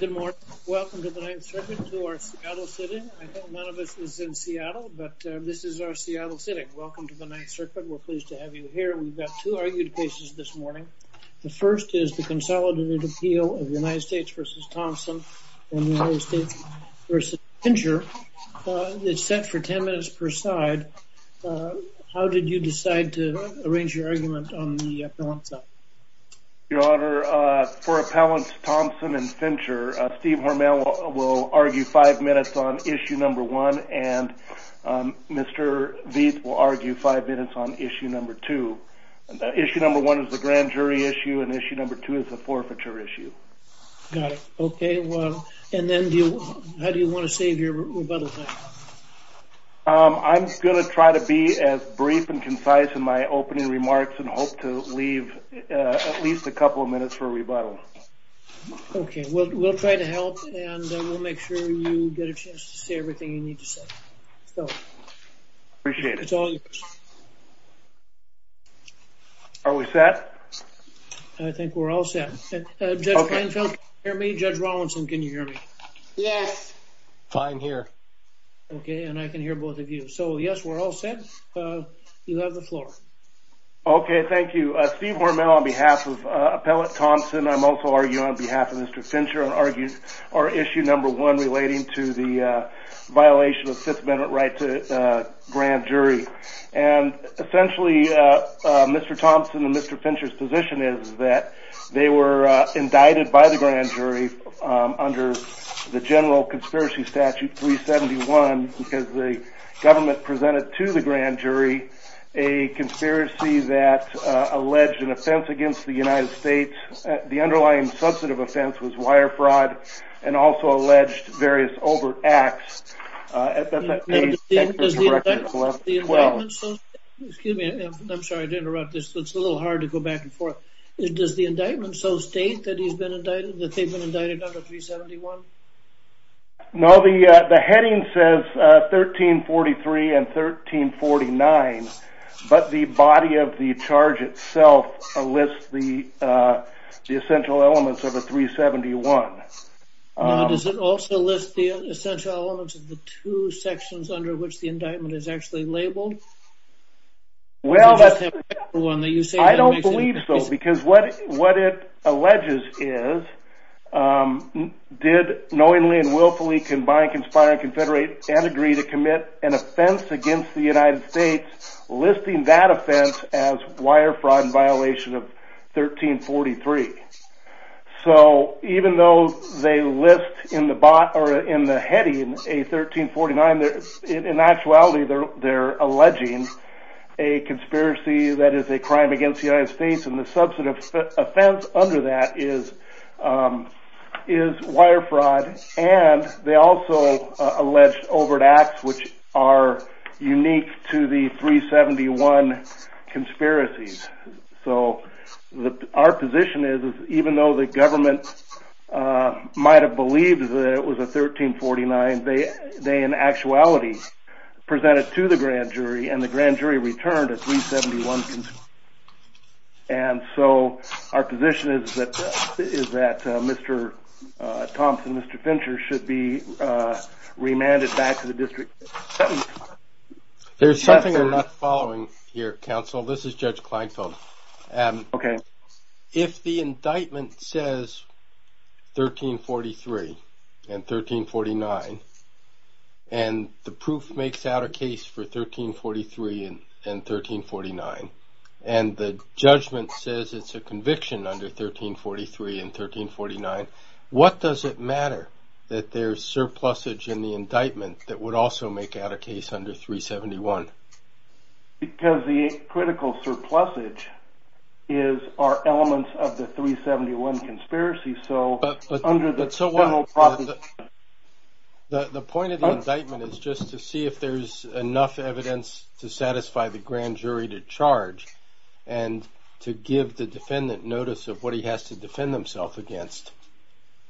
Good morning. Welcome to the 9th Circuit to our Seattle sitting. I know none of us is in Seattle, but this is our Seattle sitting. Welcome to the 9th Circuit. We're pleased to have you here. We've got two argued cases this morning. The first is the consolidated appeal of United States v. Thompson and United States v. Fincher. It's set for 10 minutes per side. How did you decide to arrange your argument on the appellant side? Your Honor, for appellants Thompson and Fincher, Steve Hormel will argue five minutes on issue number one and Mr. Vieth will argue five minutes on issue number two. Issue number one is the grand jury issue and issue number two is the forfeiture issue. Got it. Okay. And then how do you want to save your rebuttal time? I'm going to try to be as brief and concise in my opening remarks and hope to leave at least a couple of minutes for rebuttal. Okay, we'll try to help and we'll make sure you get a chance to say everything you need to say. Appreciate it. Are we set? I think we're all set. Judge Panfield, can you hear me? Judge Rawlinson, can you hear me? Yes. Fine here. Okay, and I can hear both of you. So yes, we're all set. You have the floor. Okay, thank you. Steve Hormel on behalf of Appellant Thompson, I'm also arguing on behalf of Mr. Fincher and argue our issue number one relating to the violation of Fifth Amendment right to grand jury. Essentially, Mr. Thompson and Mr. Fincher's position is that they were indicted by the grand jury under the general conspiracy statute 371 because the government presented to the grand jury a conspiracy that alleged an offense against the United States. The underlying substantive offense was wire fraud and also alleged various overt acts. Excuse me, I'm sorry to interrupt this. It's a little hard to go back and forth. Does the indictment so state that he's been indicted, that they've been indicted under 371? No, the heading says 1343 and 1349. But the body of the charge itself lists the essential elements of a 371. Does it also list the essential elements of the two sections under which the indictment is actually labeled? Well, I don't believe so. Because what it alleges is, did knowingly and willfully combine conspiring confederate and agree to commit an offense against the United States, listing that offense as wire fraud and violation of 1343. So, even though they list in the body or in the heading a 1349, in actuality they're alleging a conspiracy that is a crime against the United States and the substantive offense under that is wire fraud and they also allege overt acts which are unique to the 371 conspiracies. So, our position is, even though the government might have believed that it was a 1349, they in actuality presented to the grand jury and the grand jury returned a 371 conspiracy. And so, our position is that Mr. Thompson, Mr. Fincher should be remanded back to the district. There's something I'm not following here, counsel. This is Judge Kleinfeld. Okay. If the indictment says 1343 and 1349 and the proof makes out a case for 1343 and 1349 and the judgment says it's a conviction under 1343 and 1349, what does it matter that there's surplusage in the indictment that would also make out a case under 371? Because the critical surplusage are elements of the 371 conspiracy. The point of the indictment is just to see if there's enough evidence to satisfy the grand jury to charge and to give the defendant notice of what he has to defend himself against.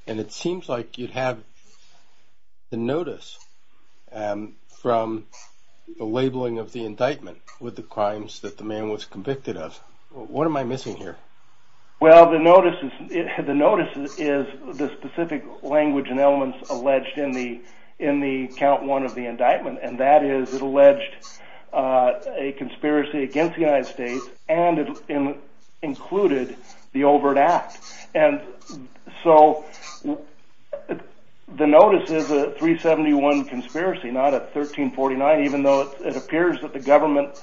And it seems like you have the notice from the labeling of the indictment with the crimes that the man was convicted of. What am I missing here? Well, the notice is the specific language and elements alleged in the count one of the indictment. And that is it alleged a conspiracy against the United States and it included the Overt Act. And so the notice is a 371 conspiracy, not a 1349, even though it appears that the government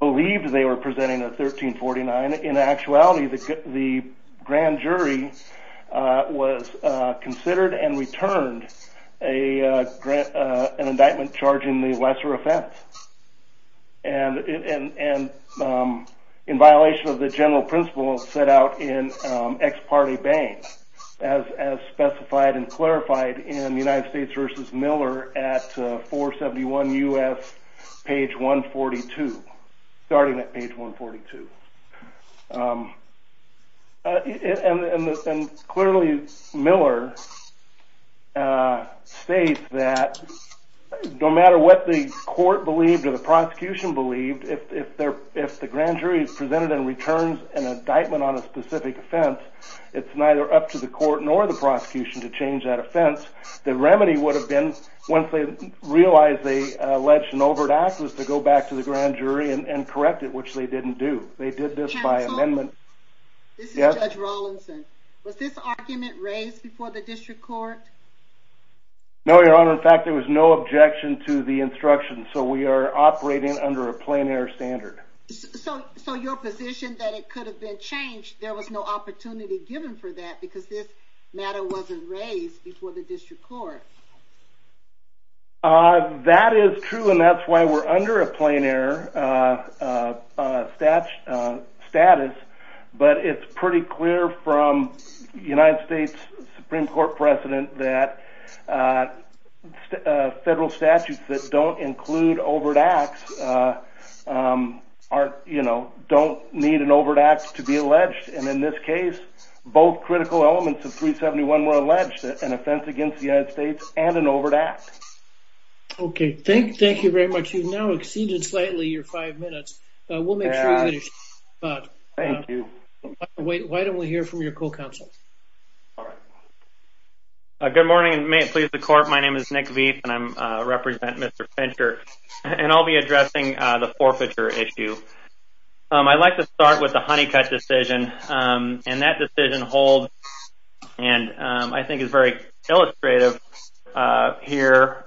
believed they were presenting a 1349. In actuality, the grand jury was considered and returned an indictment charging the lesser offense. And in violation of the general principle set out in ex parte bank as specified and clarified in the United States versus Miller at 471 U.S. page 142, starting at page 142. And clearly Miller states that no matter what the court believed or the prosecution believed, if the grand jury is presented and returns an indictment on a specific offense, it's neither up to the court nor the prosecution to change that offense. The remedy would have been once they realized they alleged an Overt Act was to go back to the grand jury and correct it, which they didn't do. They did this by amendment. This is Judge Rawlinson. Was this argument raised before the district court? No, Your Honor. In fact, there was no objection to the instruction. So we are operating under a plain air standard. So your position that it could have been changed, there was no opportunity given for that because this matter wasn't raised before the district court. That is true, and that's why we're under a plain air status. But it's pretty clear from the United States Supreme Court precedent that federal statutes that don't include Overt Acts don't need an Overt Act to be alleged. And in this case, both critical elements of 371 were alleged, an offense against the United States and an Overt Act. Okay. Thank you very much. You've now exceeded slightly your five minutes. We'll make sure you finish. Thank you. Why don't we hear from your co-counsel? All right. Good morning, and may it please the court. My name is Nick Veith, and I represent Mr. Fincher. And I'll be addressing the forfeiture issue. I'd like to start with the Honeycutt decision. And that decision holds, and I think is very illustrative here,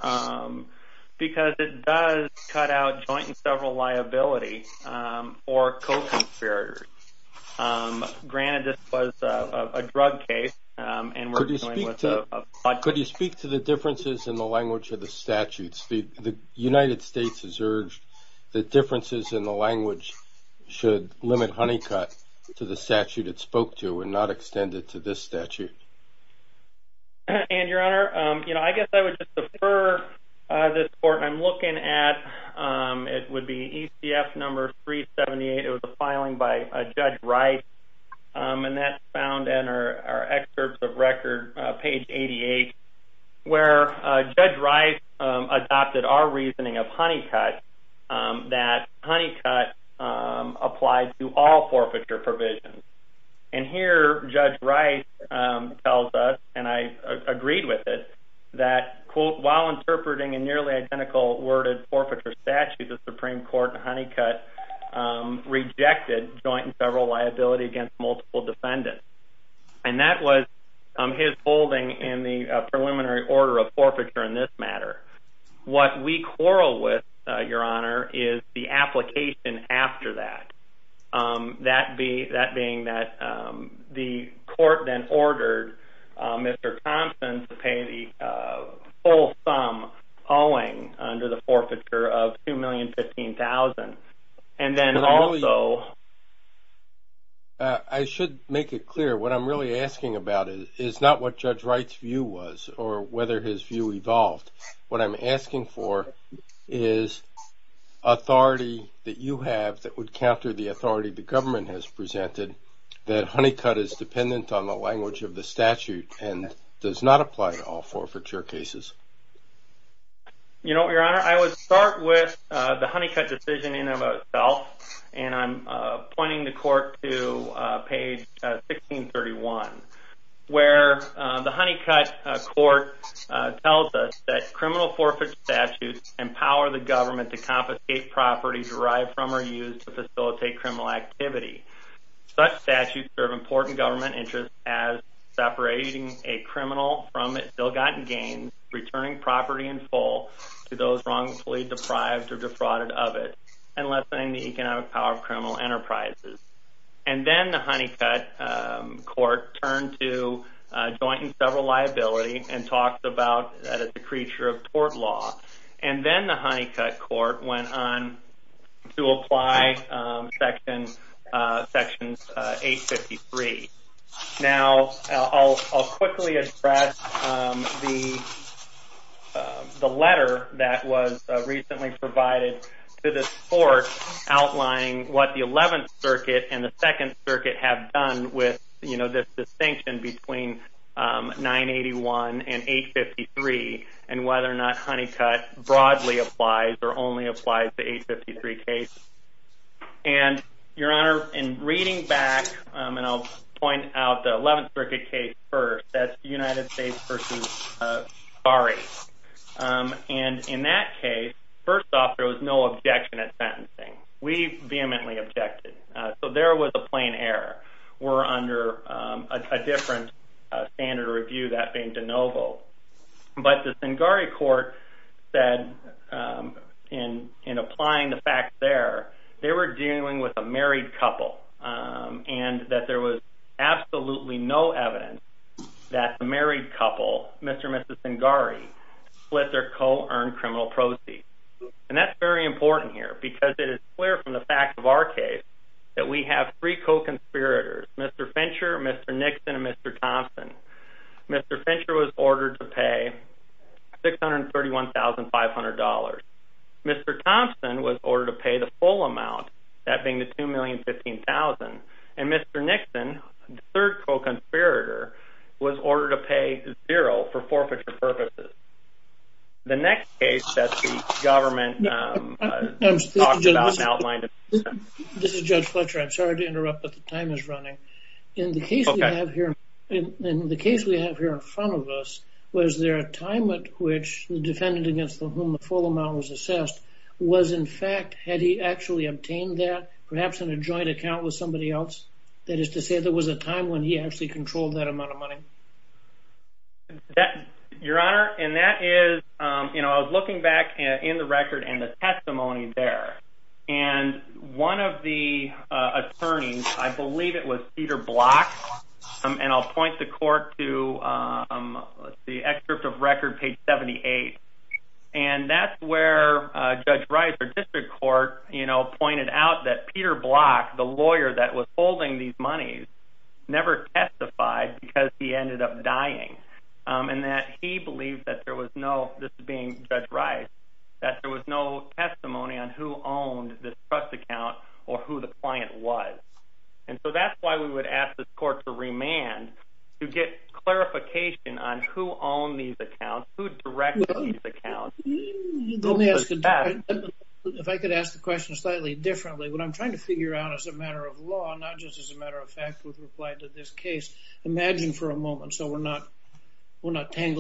because it does cut out joint and several liability for co-conspirators. Granted, this was a drug case, and we're dealing with a budget. Could you speak to the differences in the language of the statutes? The United States has urged that differences in the language should limit Honeycutt to the statute it spoke to and not extend it to this statute. And, Your Honor, you know, I guess I would just defer this court. I'm looking at it would be ECF number 378. It was a filing by Judge Rice, and that's found in our excerpts of record, page 88, where Judge Rice adopted our reasoning of Honeycutt that Honeycutt applied to all forfeiture provisions. And here, Judge Rice tells us, and I agreed with it, that, quote, while interpreting a nearly identical worded forfeiture statute, the Supreme Court in Honeycutt rejected joint and several liability against multiple defendants. And that was his holding in the preliminary order of forfeiture in this matter. What we quarrel with, Your Honor, is the application after that, that being that the court then ordered Mr. Thompson to pay the full sum owing under the forfeiture of $2,015,000. I should make it clear. What I'm really asking about is not what Judge Rice's view was or whether his view evolved. What I'm asking for is authority that you have that would counter the authority the government has presented that Honeycutt is dependent on the language of the statute and does not apply to all forfeiture cases. You know what, Your Honor? I would start with the Honeycutt decision in and of itself, and I'm pointing the court to page 1631, where the Honeycutt court tells us that criminal forfeiture statutes empower the government to confiscate property derived from or used to facilitate criminal activity. Such statutes serve important government interests as separating a criminal from ill-gotten gains, returning property in full to those wrongfully deprived or defrauded of it, and lessening the economic power of criminal enterprises. And then the Honeycutt court turned to joint and several liability and talks about that it's a creature of tort law. And then the Honeycutt court went on to apply Section 853. Now, I'll quickly address the letter that was recently provided to this court outlining what the 11th Circuit and the 2nd Circuit have done with, you know, this distinction between 981 and 853 and whether or not Honeycutt broadly applies or only applies to 853 cases. And, Your Honor, in reading back, and I'll point out the 11th Circuit case first, that's the United States v. Fares. And in that case, first off, there was no objection at sentencing. We vehemently objected. So there was a plain error. We're under a different standard of review, that being de novo. But the Singari court said in applying the facts there, they were dealing with a married couple and that there was absolutely no evidence that the married couple, Mr. and Mrs. Singari, split their co-earned criminal proceeds. And that's very important here because it is clear from the fact of our case that we have three co-conspirators, Mr. Fincher, Mr. Nixon, and Mr. Thompson. Mr. Fincher was ordered to pay $631,500. Mr. Thompson was ordered to pay the full amount, that being the $2,015,000. And Mr. Nixon, the third co-conspirator, was ordered to pay zero for forfeiture purposes. The next case that the government talked about and outlined. This is Judge Fletcher. I'm sorry to interrupt but the time is running. In the case we have here, in the case we have here in front of us, was there a time at which the defendant against whom the full amount was assessed was in fact, had he actually obtained that perhaps in a joint account with somebody else? That is to say there was a time when he actually controlled that amount of money? Your Honor, and that is, you know, I was looking back in the record and the testimony there. And one of the attorneys, I believe it was Peter Block, and I'll point the court to the excerpt of record page 78. And that's where Judge Rice, our district court, you know, pointed out that Peter Block, the lawyer that was holding these monies, never testified because he ended up dying. And that he believed that there was no, this being Judge Rice, that there was no testimony on who owned this trust account or who the client was. And so that's why we would ask this court to remand, to get clarification on who owned these accounts, who directed these accounts. Let me ask, if I could ask the question slightly differently. What I'm trying to figure out as a matter of law, not just as a matter of fact, with reply to this case, imagine for a moment, imagine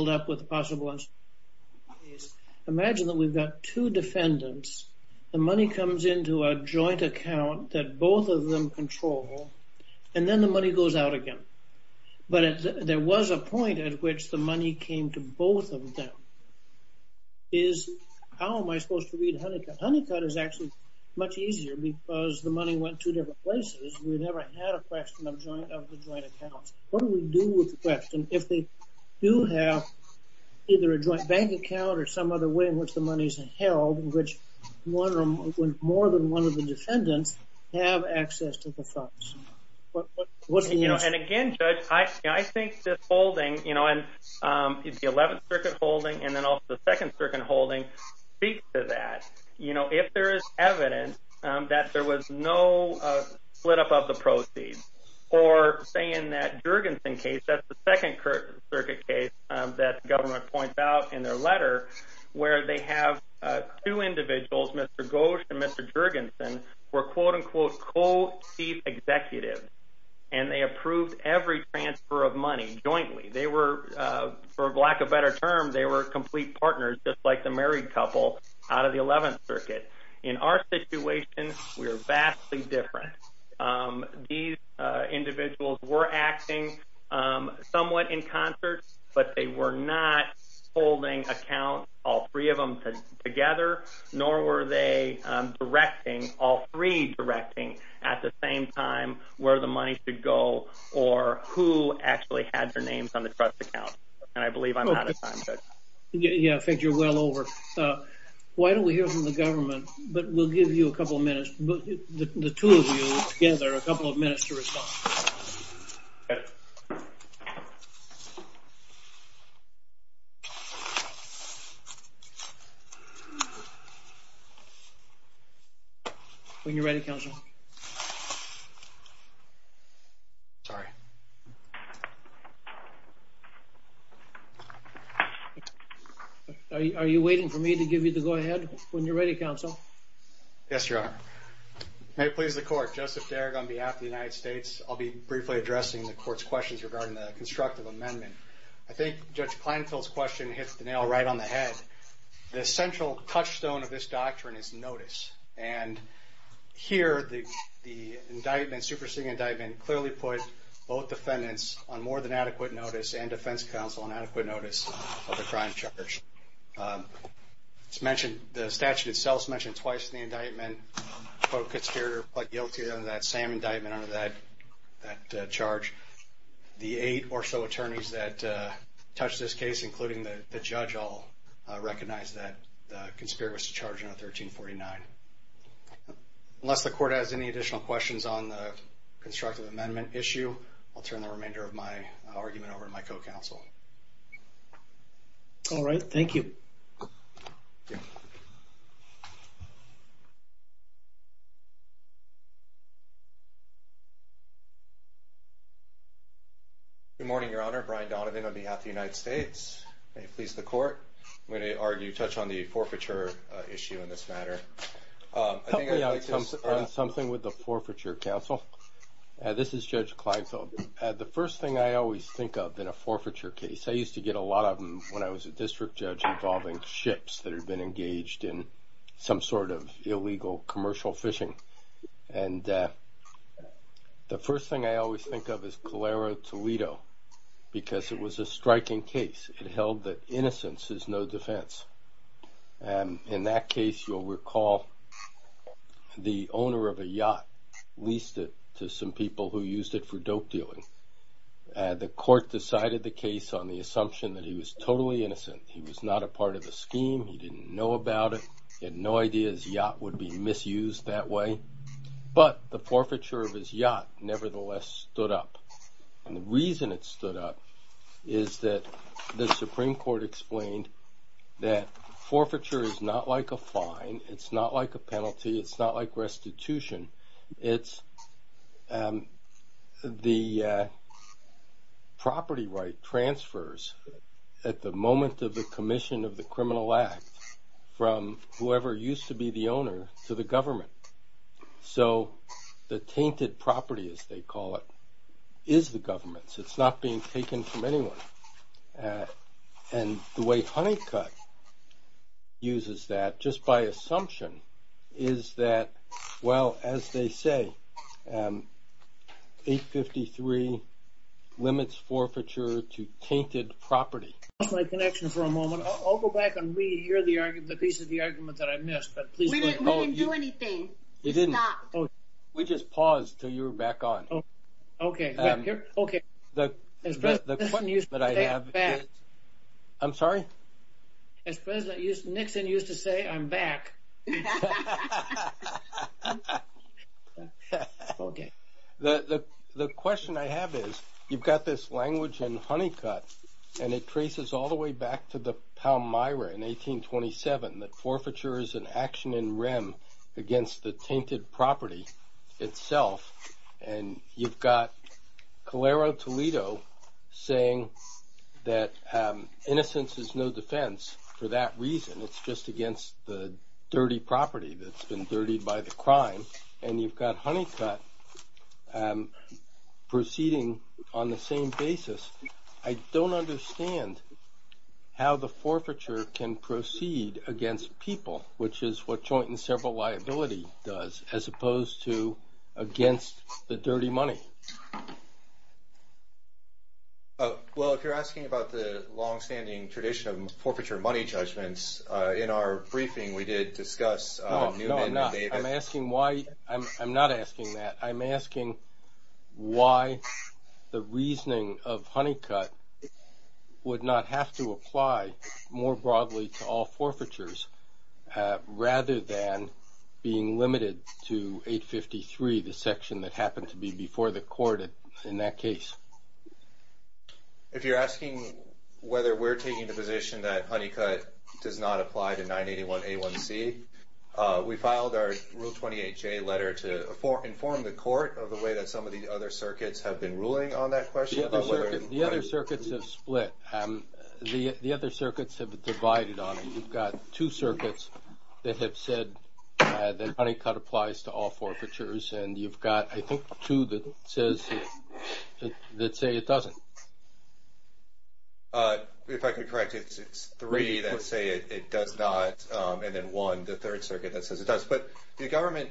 that we've got two defendants. The money comes into a joint account that both of them control, and then the money goes out again. But there was a point at which the money came to both of them. How am I supposed to read Honeycutt? Honeycutt is actually much easier because the money went to different places. We never had a question of the joint accounts. What do we do with the question? If they do have either a joint bank account or some other way in which the money is held, which more than one of the defendants have access to the funds, what's the use? And again, Judge, I think this holding, the 11th Circuit holding and then also the 2nd Circuit holding speak to that. If there is evidence that there was no split up of the proceeds, or say in that Jurgensen case, that's the 2nd Circuit case that the government points out in their letter, where they have two individuals, Mr. Gosch and Mr. Jurgensen, were quote-unquote co-chief executives, and they approved every transfer of money jointly. They were, for lack of a better term, they were complete partners, just like the married couple out of the 11th Circuit. In our situation, we are vastly different. These individuals were acting somewhat in concert, but they were not holding accounts, all three of them together, nor were they directing, all three directing at the same time where the money should go or who actually had their names on the trust account. And I believe I'm out of time, Judge. Yeah, I think you're well over. Why don't we hear from the government, but we'll give you a couple of minutes. The two of you together, a couple of minutes to respond. When you're ready, Counsel. Sorry. Are you waiting for me to give you the go-ahead? When you're ready, Counsel. Yes, Your Honor. May it please the Court. Joseph Derrick on behalf of the United States. I'll be briefly addressing the Court's questions regarding the constructive amendment. I think Judge Kleinfeld's question hits the nail right on the head. The central touchstone of this doctrine is notice, and here the indictment, superseding indictment, clearly put both defendants on more than adequate notice and defense counsel on adequate notice of the crime charge. It's mentioned, the statute itself is mentioned twice in the indictment, quote, conspirator, but guilty under that same indictment under that charge. The eight or so attorneys that touched this case, including the judge, all recognized that the conspirator was to charge under 1349. Unless the Court has any additional questions on the constructive amendment issue, I'll turn the remainder of my argument over to my co-counsel. All right. Thank you. Good morning, Your Honor. Brian Donovan on behalf of the United States. May it please the Court. I'm going to touch on the forfeiture issue in this matter. Help me out on something with the forfeiture, Counsel. This is Judge Kleinfeld. The first thing I always think of in a forfeiture case, I used to get a lot of them when I was a district judge involving ships that had been engaged in some sort of illegal commercial fishing. And the first thing I always think of is Calera Toledo because it was a striking case. It held that innocence is no defense. In that case, you'll recall the owner of a yacht leased it to some people who used it for dope dealing. The Court decided the case on the assumption that he was totally innocent. He was not a part of the scheme. He didn't know about it. He had no idea his yacht would be misused that way. But the forfeiture of his yacht nevertheless stood up. And the reason it stood up is that the Supreme Court explained that forfeiture is not like a fine. It's not like a penalty. It's not like restitution. It's the property right transfers at the moment of the commission of the criminal act from whoever used to be the owner to the government. So the tainted property, as they call it, is the government's. It's not being taken from anyone. And the way Honeycutt uses that just by assumption is that, well, as they say, 853 limits forfeiture to tainted property. I lost my connection for a moment. I'll go back and re-hear the piece of the argument that I missed. We didn't do anything. We didn't. We just paused until you were back on. Okay. Okay. The point that I have is. I'm sorry? As President Nixon used to say, I'm back. Okay. The question I have is, you've got this language in Honeycutt, and it traces all the way back to the Palmyra in 1827, that forfeiture is an action in rem against the tainted property itself. And you've got Calero Toledo saying that innocence is no defense for that reason. It's just against the dirty property that's been dirtied by the crime. And you've got Honeycutt proceeding on the same basis. I don't understand how the forfeiture can proceed against people, which is what joint and several liability does, as opposed to against the dirty money. Well, if you're asking about the longstanding tradition of forfeiture money judgments, in our briefing we did discuss. No, I'm not. I'm asking why. I'm not asking that. I'm asking why the reasoning of Honeycutt would not have to apply more broadly to all forfeitures rather than being limited to 853, the section that happened to be before the court in that case. If you're asking whether we're taking the position that Honeycutt does not apply to 981A1C, we filed our Rule 28J letter to inform the court of the way that some of the other circuits have been ruling on that question. The other circuits have split. The other circuits have divided on it. You've got two circuits that have said that Honeycutt applies to all forfeitures. And you've got, I think, two that say it doesn't. If I can correct you, it's three that say it does not, and then one, the third circuit that says it does. But the government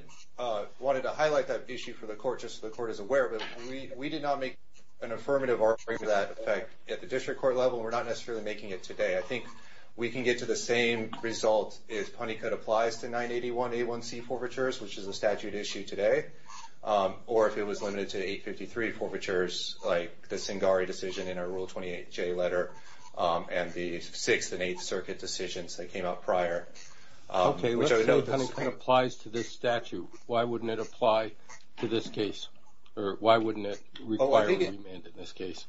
wanted to highlight that issue for the court just so the court is aware of it. We did not make an affirmative offering to that effect at the district court level. We're not necessarily making it today. I think we can get to the same result as Honeycutt applies to 981A1C forfeitures, which is a statute issue today. Or if it was limited to 853 forfeitures, like the Singari decision in our Rule 28J letter, and the Sixth and Eighth Circuit decisions that came out prior. Okay. Honeycutt applies to this statute. Why wouldn't it apply to this case? Or why wouldn't it require a remand in this case?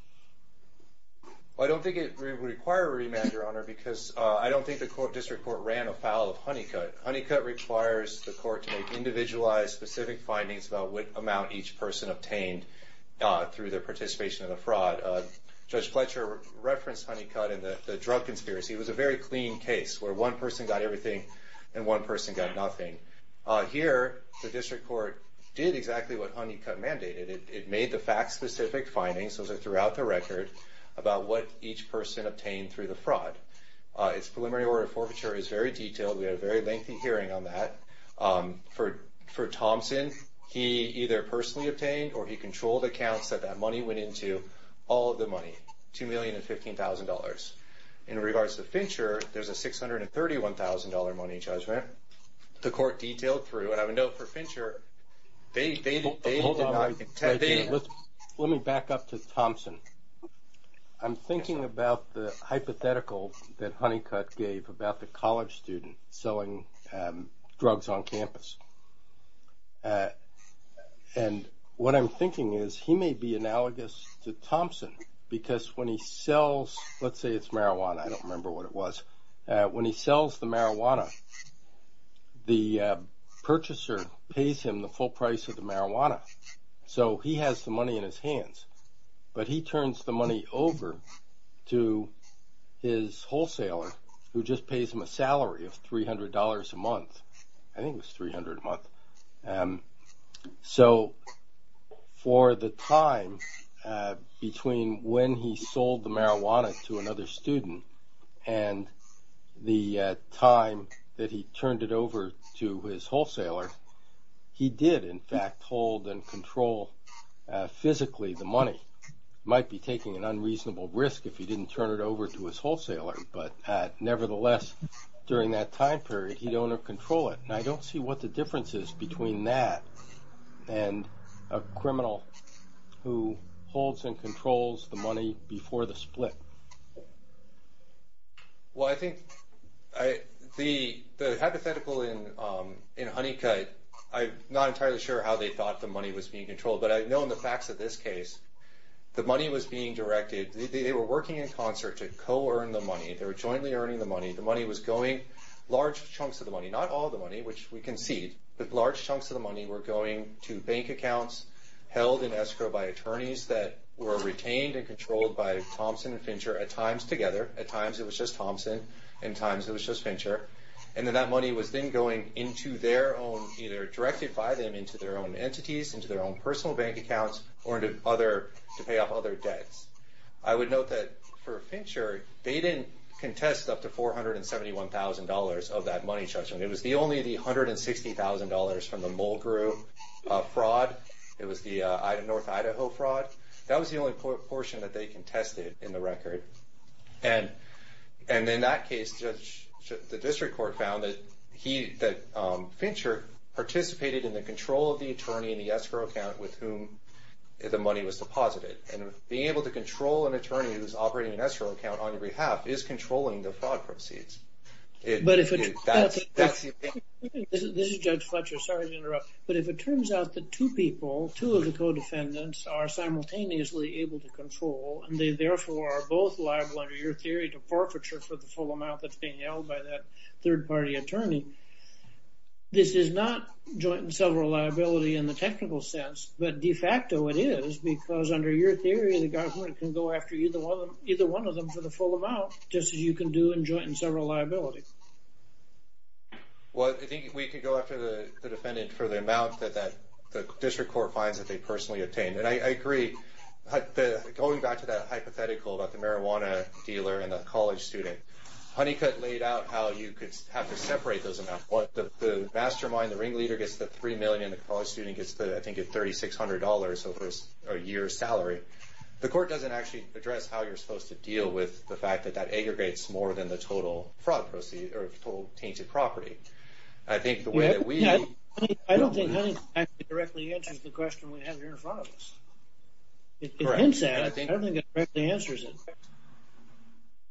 I don't think it would require a remand, Your Honor, because I don't think the court district court ran a file of Honeycutt. Honeycutt requires the court to make individualized, specific findings about what amount each person obtained through their participation in the fraud. Judge Fletcher referenced Honeycutt in the drug conspiracy. It was a very clean case where one person got everything and one person got nothing. Here, the district court did exactly what Honeycutt mandated. It made the fact-specific findings, those are throughout the record, about what each person obtained through the fraud. Its preliminary order of forfeiture is very detailed. We had a very lengthy hearing on that. For Thompson, he either personally obtained or he controlled accounts that that money went into. All of the money, $2,015,000. In regards to Fincher, there's a $631,000 money judgment. The court detailed through, and I would note for Fincher, they did not intend. Let me back up to Thompson. I'm thinking about the hypothetical that Honeycutt gave about the college student selling drugs on campus. What I'm thinking is he may be analogous to Thompson because when he sells, let's say it's marijuana. I don't remember what it was. When he sells the marijuana, the purchaser pays him the full price of the marijuana. He has the money in his hands, but he turns the money over to his wholesaler who just pays him a salary of $300 a month. I think it was $300 a month. For the time between when he sold the marijuana to another student and the time that he turned it over to his wholesaler, he did, in fact, hold and control physically the money. He might be taking an unreasonable risk if he didn't turn it over to his wholesaler. Nevertheless, during that time period, he'd own or control it. I don't see what the difference is between that and a criminal who holds and controls the money before the split. Well, I think the hypothetical in Honeycutt, I'm not entirely sure how they thought the money was being controlled, but I know in the facts of this case, the money was being directed. They were working in concert to co-earn the money. They were jointly earning the money. The money was going, large chunks of the money, not all the money, which we concede, but large chunks of the money were going to bank accounts held in escrow by attorneys that were retained and controlled by Thompson and Fincher at times together. At times, it was just Thompson. At times, it was just Fincher. Then that money was then going into their own, either directed by them into their own entities, into their own personal bank accounts, or to pay off other debts. I would note that for Fincher, they didn't contest up to $471,000 of that money, Judge. It was only the $160,000 from the Mulgrew fraud. It was the North Idaho fraud. That was the only portion that they contested in the record. In that case, the district court found that Fincher participated in the control of the attorney in the escrow account with whom the money was deposited. Being able to control an attorney who's operating an escrow account on your behalf is controlling the fraud proceeds. That's the thing. This is Judge Fletcher. Sorry to interrupt. If it turns out that two people, two of the co-defendants, are simultaneously able to control, and they, therefore, are both liable under your theory to forfeiture for the full amount that's being held by that third-party attorney, this is not joint and several liability in the government can go after either one of them for the full amount, just as you can do in joint and several liability. Well, I think we could go after the defendant for the amount that the district court finds that they personally obtained. I agree. Going back to that hypothetical about the marijuana dealer and the college student, Honeycutt laid out how you could have to separate those amounts. The mastermind, the ringleader, gets the $3 million. The college student gets, I think, a $3,600 over a year's salary. The court doesn't actually address how you're supposed to deal with the fact that that aggregates more than the total fraud proceed or the total tainted property. I think the way that we- I don't think Honeycutt actually directly answers the question we have here in front of us. It hints at it. I don't think it directly answers it.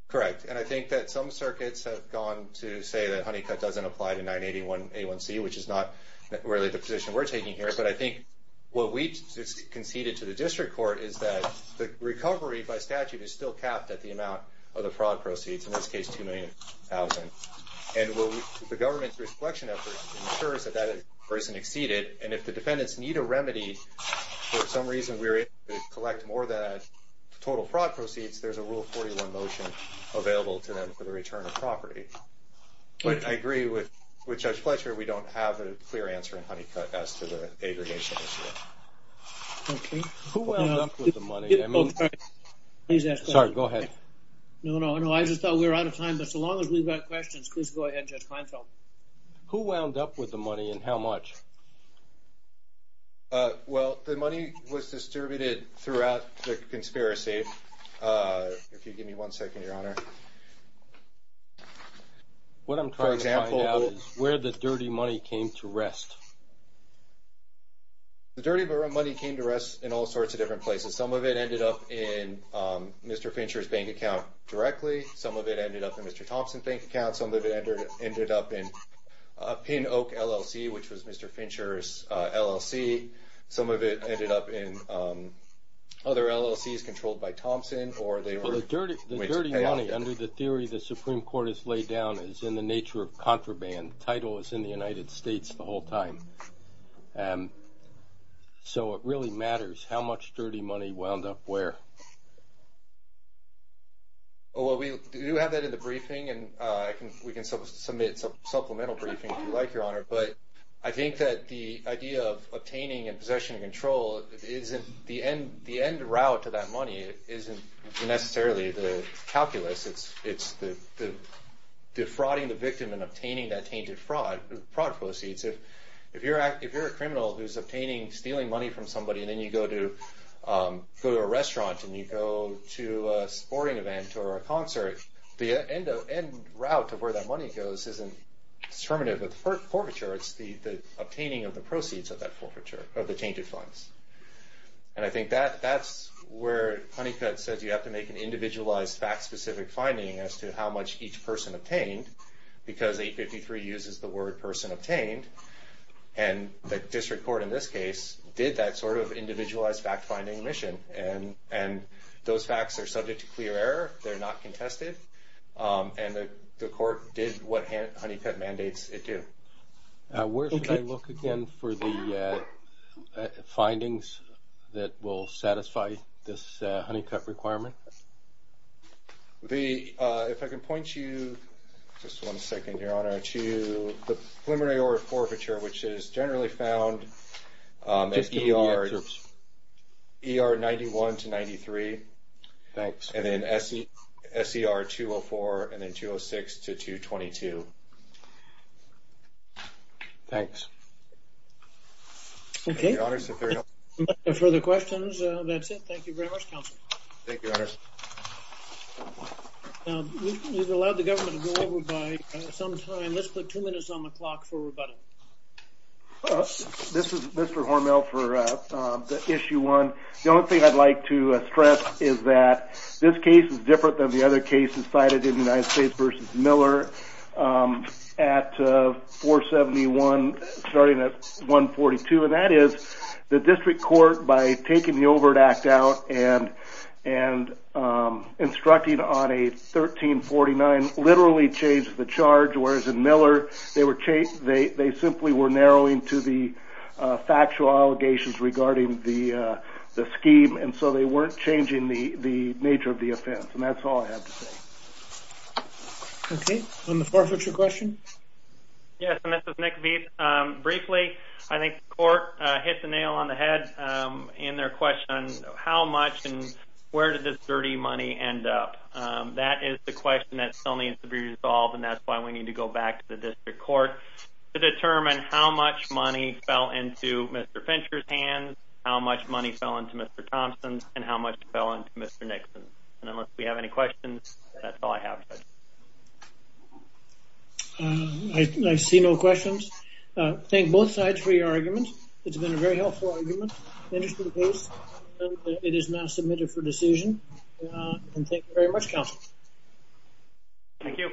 Correct. And I think that some circuits have gone to say that Honeycutt doesn't apply to 981A1C, which is not really the position we're taking here. But I think what we conceded to the district court is that the recovery by statute is still capped at the amount of the fraud proceeds, in this case, $2 million. And the government's recollection effort ensures that that isn't exceeded. And if the defendants need a remedy, for some reason we're able to collect more than the total fraud proceeds, there's a Rule 41 motion available to them for the return of property. But I agree with Judge Fletcher. We don't have a clear answer in Honeycutt as to the aggregation issue. Okay. Who wound up with the money? I mean- Oh, sorry. Please ask the question. Sorry. Go ahead. No, no, no. I just thought we were out of time. But so long as we've got questions, please go ahead, Judge Kleinfeld. Who wound up with the money and how much? Well, the money was distributed throughout the conspiracy. If you give me one second, Your Honor. What I'm trying to find out is where the dirty money came to rest. The dirty money came to rest in all sorts of different places. Some of it ended up in Mr. Fincher's bank account directly. Some of it ended up in Mr. Thompson's bank account. Some of it ended up in Pin Oak LLC, which was Mr. Fincher's LLC. Some of it ended up in other LLCs controlled by Thompson or they were- Well, the dirty money, under the theory the Supreme Court has laid down, is in the nature of contraband. The title is in the United States the whole time. So it really matters how much dirty money wound up where. Well, we do have that in the briefing, and we can submit a supplemental briefing if you like, Your Honor. But I think that the idea of obtaining and possession and control isn't- the end route to that money isn't necessarily the calculus. It's defrauding the victim and obtaining that tainted fraud proceeds. If you're a criminal who's obtaining, stealing money from somebody and then you go to a restaurant and you go to a sporting event or a concert, the end route of where that money goes isn't determinative of the forfeiture. It's the obtaining of the proceeds of that forfeiture, of the tainted funds. And I think that's where Honeycutt says you have to make an individualized, fact-specific finding as to how much each person obtained, because 853 uses the word person obtained. And the district court in this case did that sort of individualized fact-finding mission. And those facts are subject to clear error. They're not contested. And the court did what Honeycutt mandates it do. Where should I look again for the findings that will satisfy this Honeycutt requirement? If I can point you, just one second, Your Honor, to the preliminary order forfeiture, which is generally found at ER 91 to 93. Thanks. And then SER 204 and then 206 to 222. Thanks. Okay. Any further questions? That's it. Thank you very much, counsel. Thank you, Your Honor. We've allowed the government to go over by some time. Let's put two minutes on the clock for rebuttal. This is Mr. Hormel for Issue 1. The only thing I'd like to stress is that this case is different than the other cases cited in United States v. Miller at 471 starting at 142, and that is the district court, by taking the Overt Act out and instructing on a 1349, literally changed the charge, whereas in Miller they simply were narrowing to the factual allegations regarding the scheme, and so they weren't changing the nature of the offense. And that's all I have to say. Okay. On the forfeiture question? Yes, and this is Nick Veith. Briefly, I think the court hit the nail on the head in their question on how much and where did this dirty money end up. That is the question that still needs to be resolved, and that's why we need to go back to the district court to determine how much money fell into Mr. Fincher's hands, how much money fell into Mr. Thompson's, and how much fell into Mr. Nixon's. And unless we have any questions, that's all I have. I see no questions. Thank both sides for your argument. It's been a very helpful argument in this case, and it is now submitted for decision. Thank you very much, counsel. Thank you.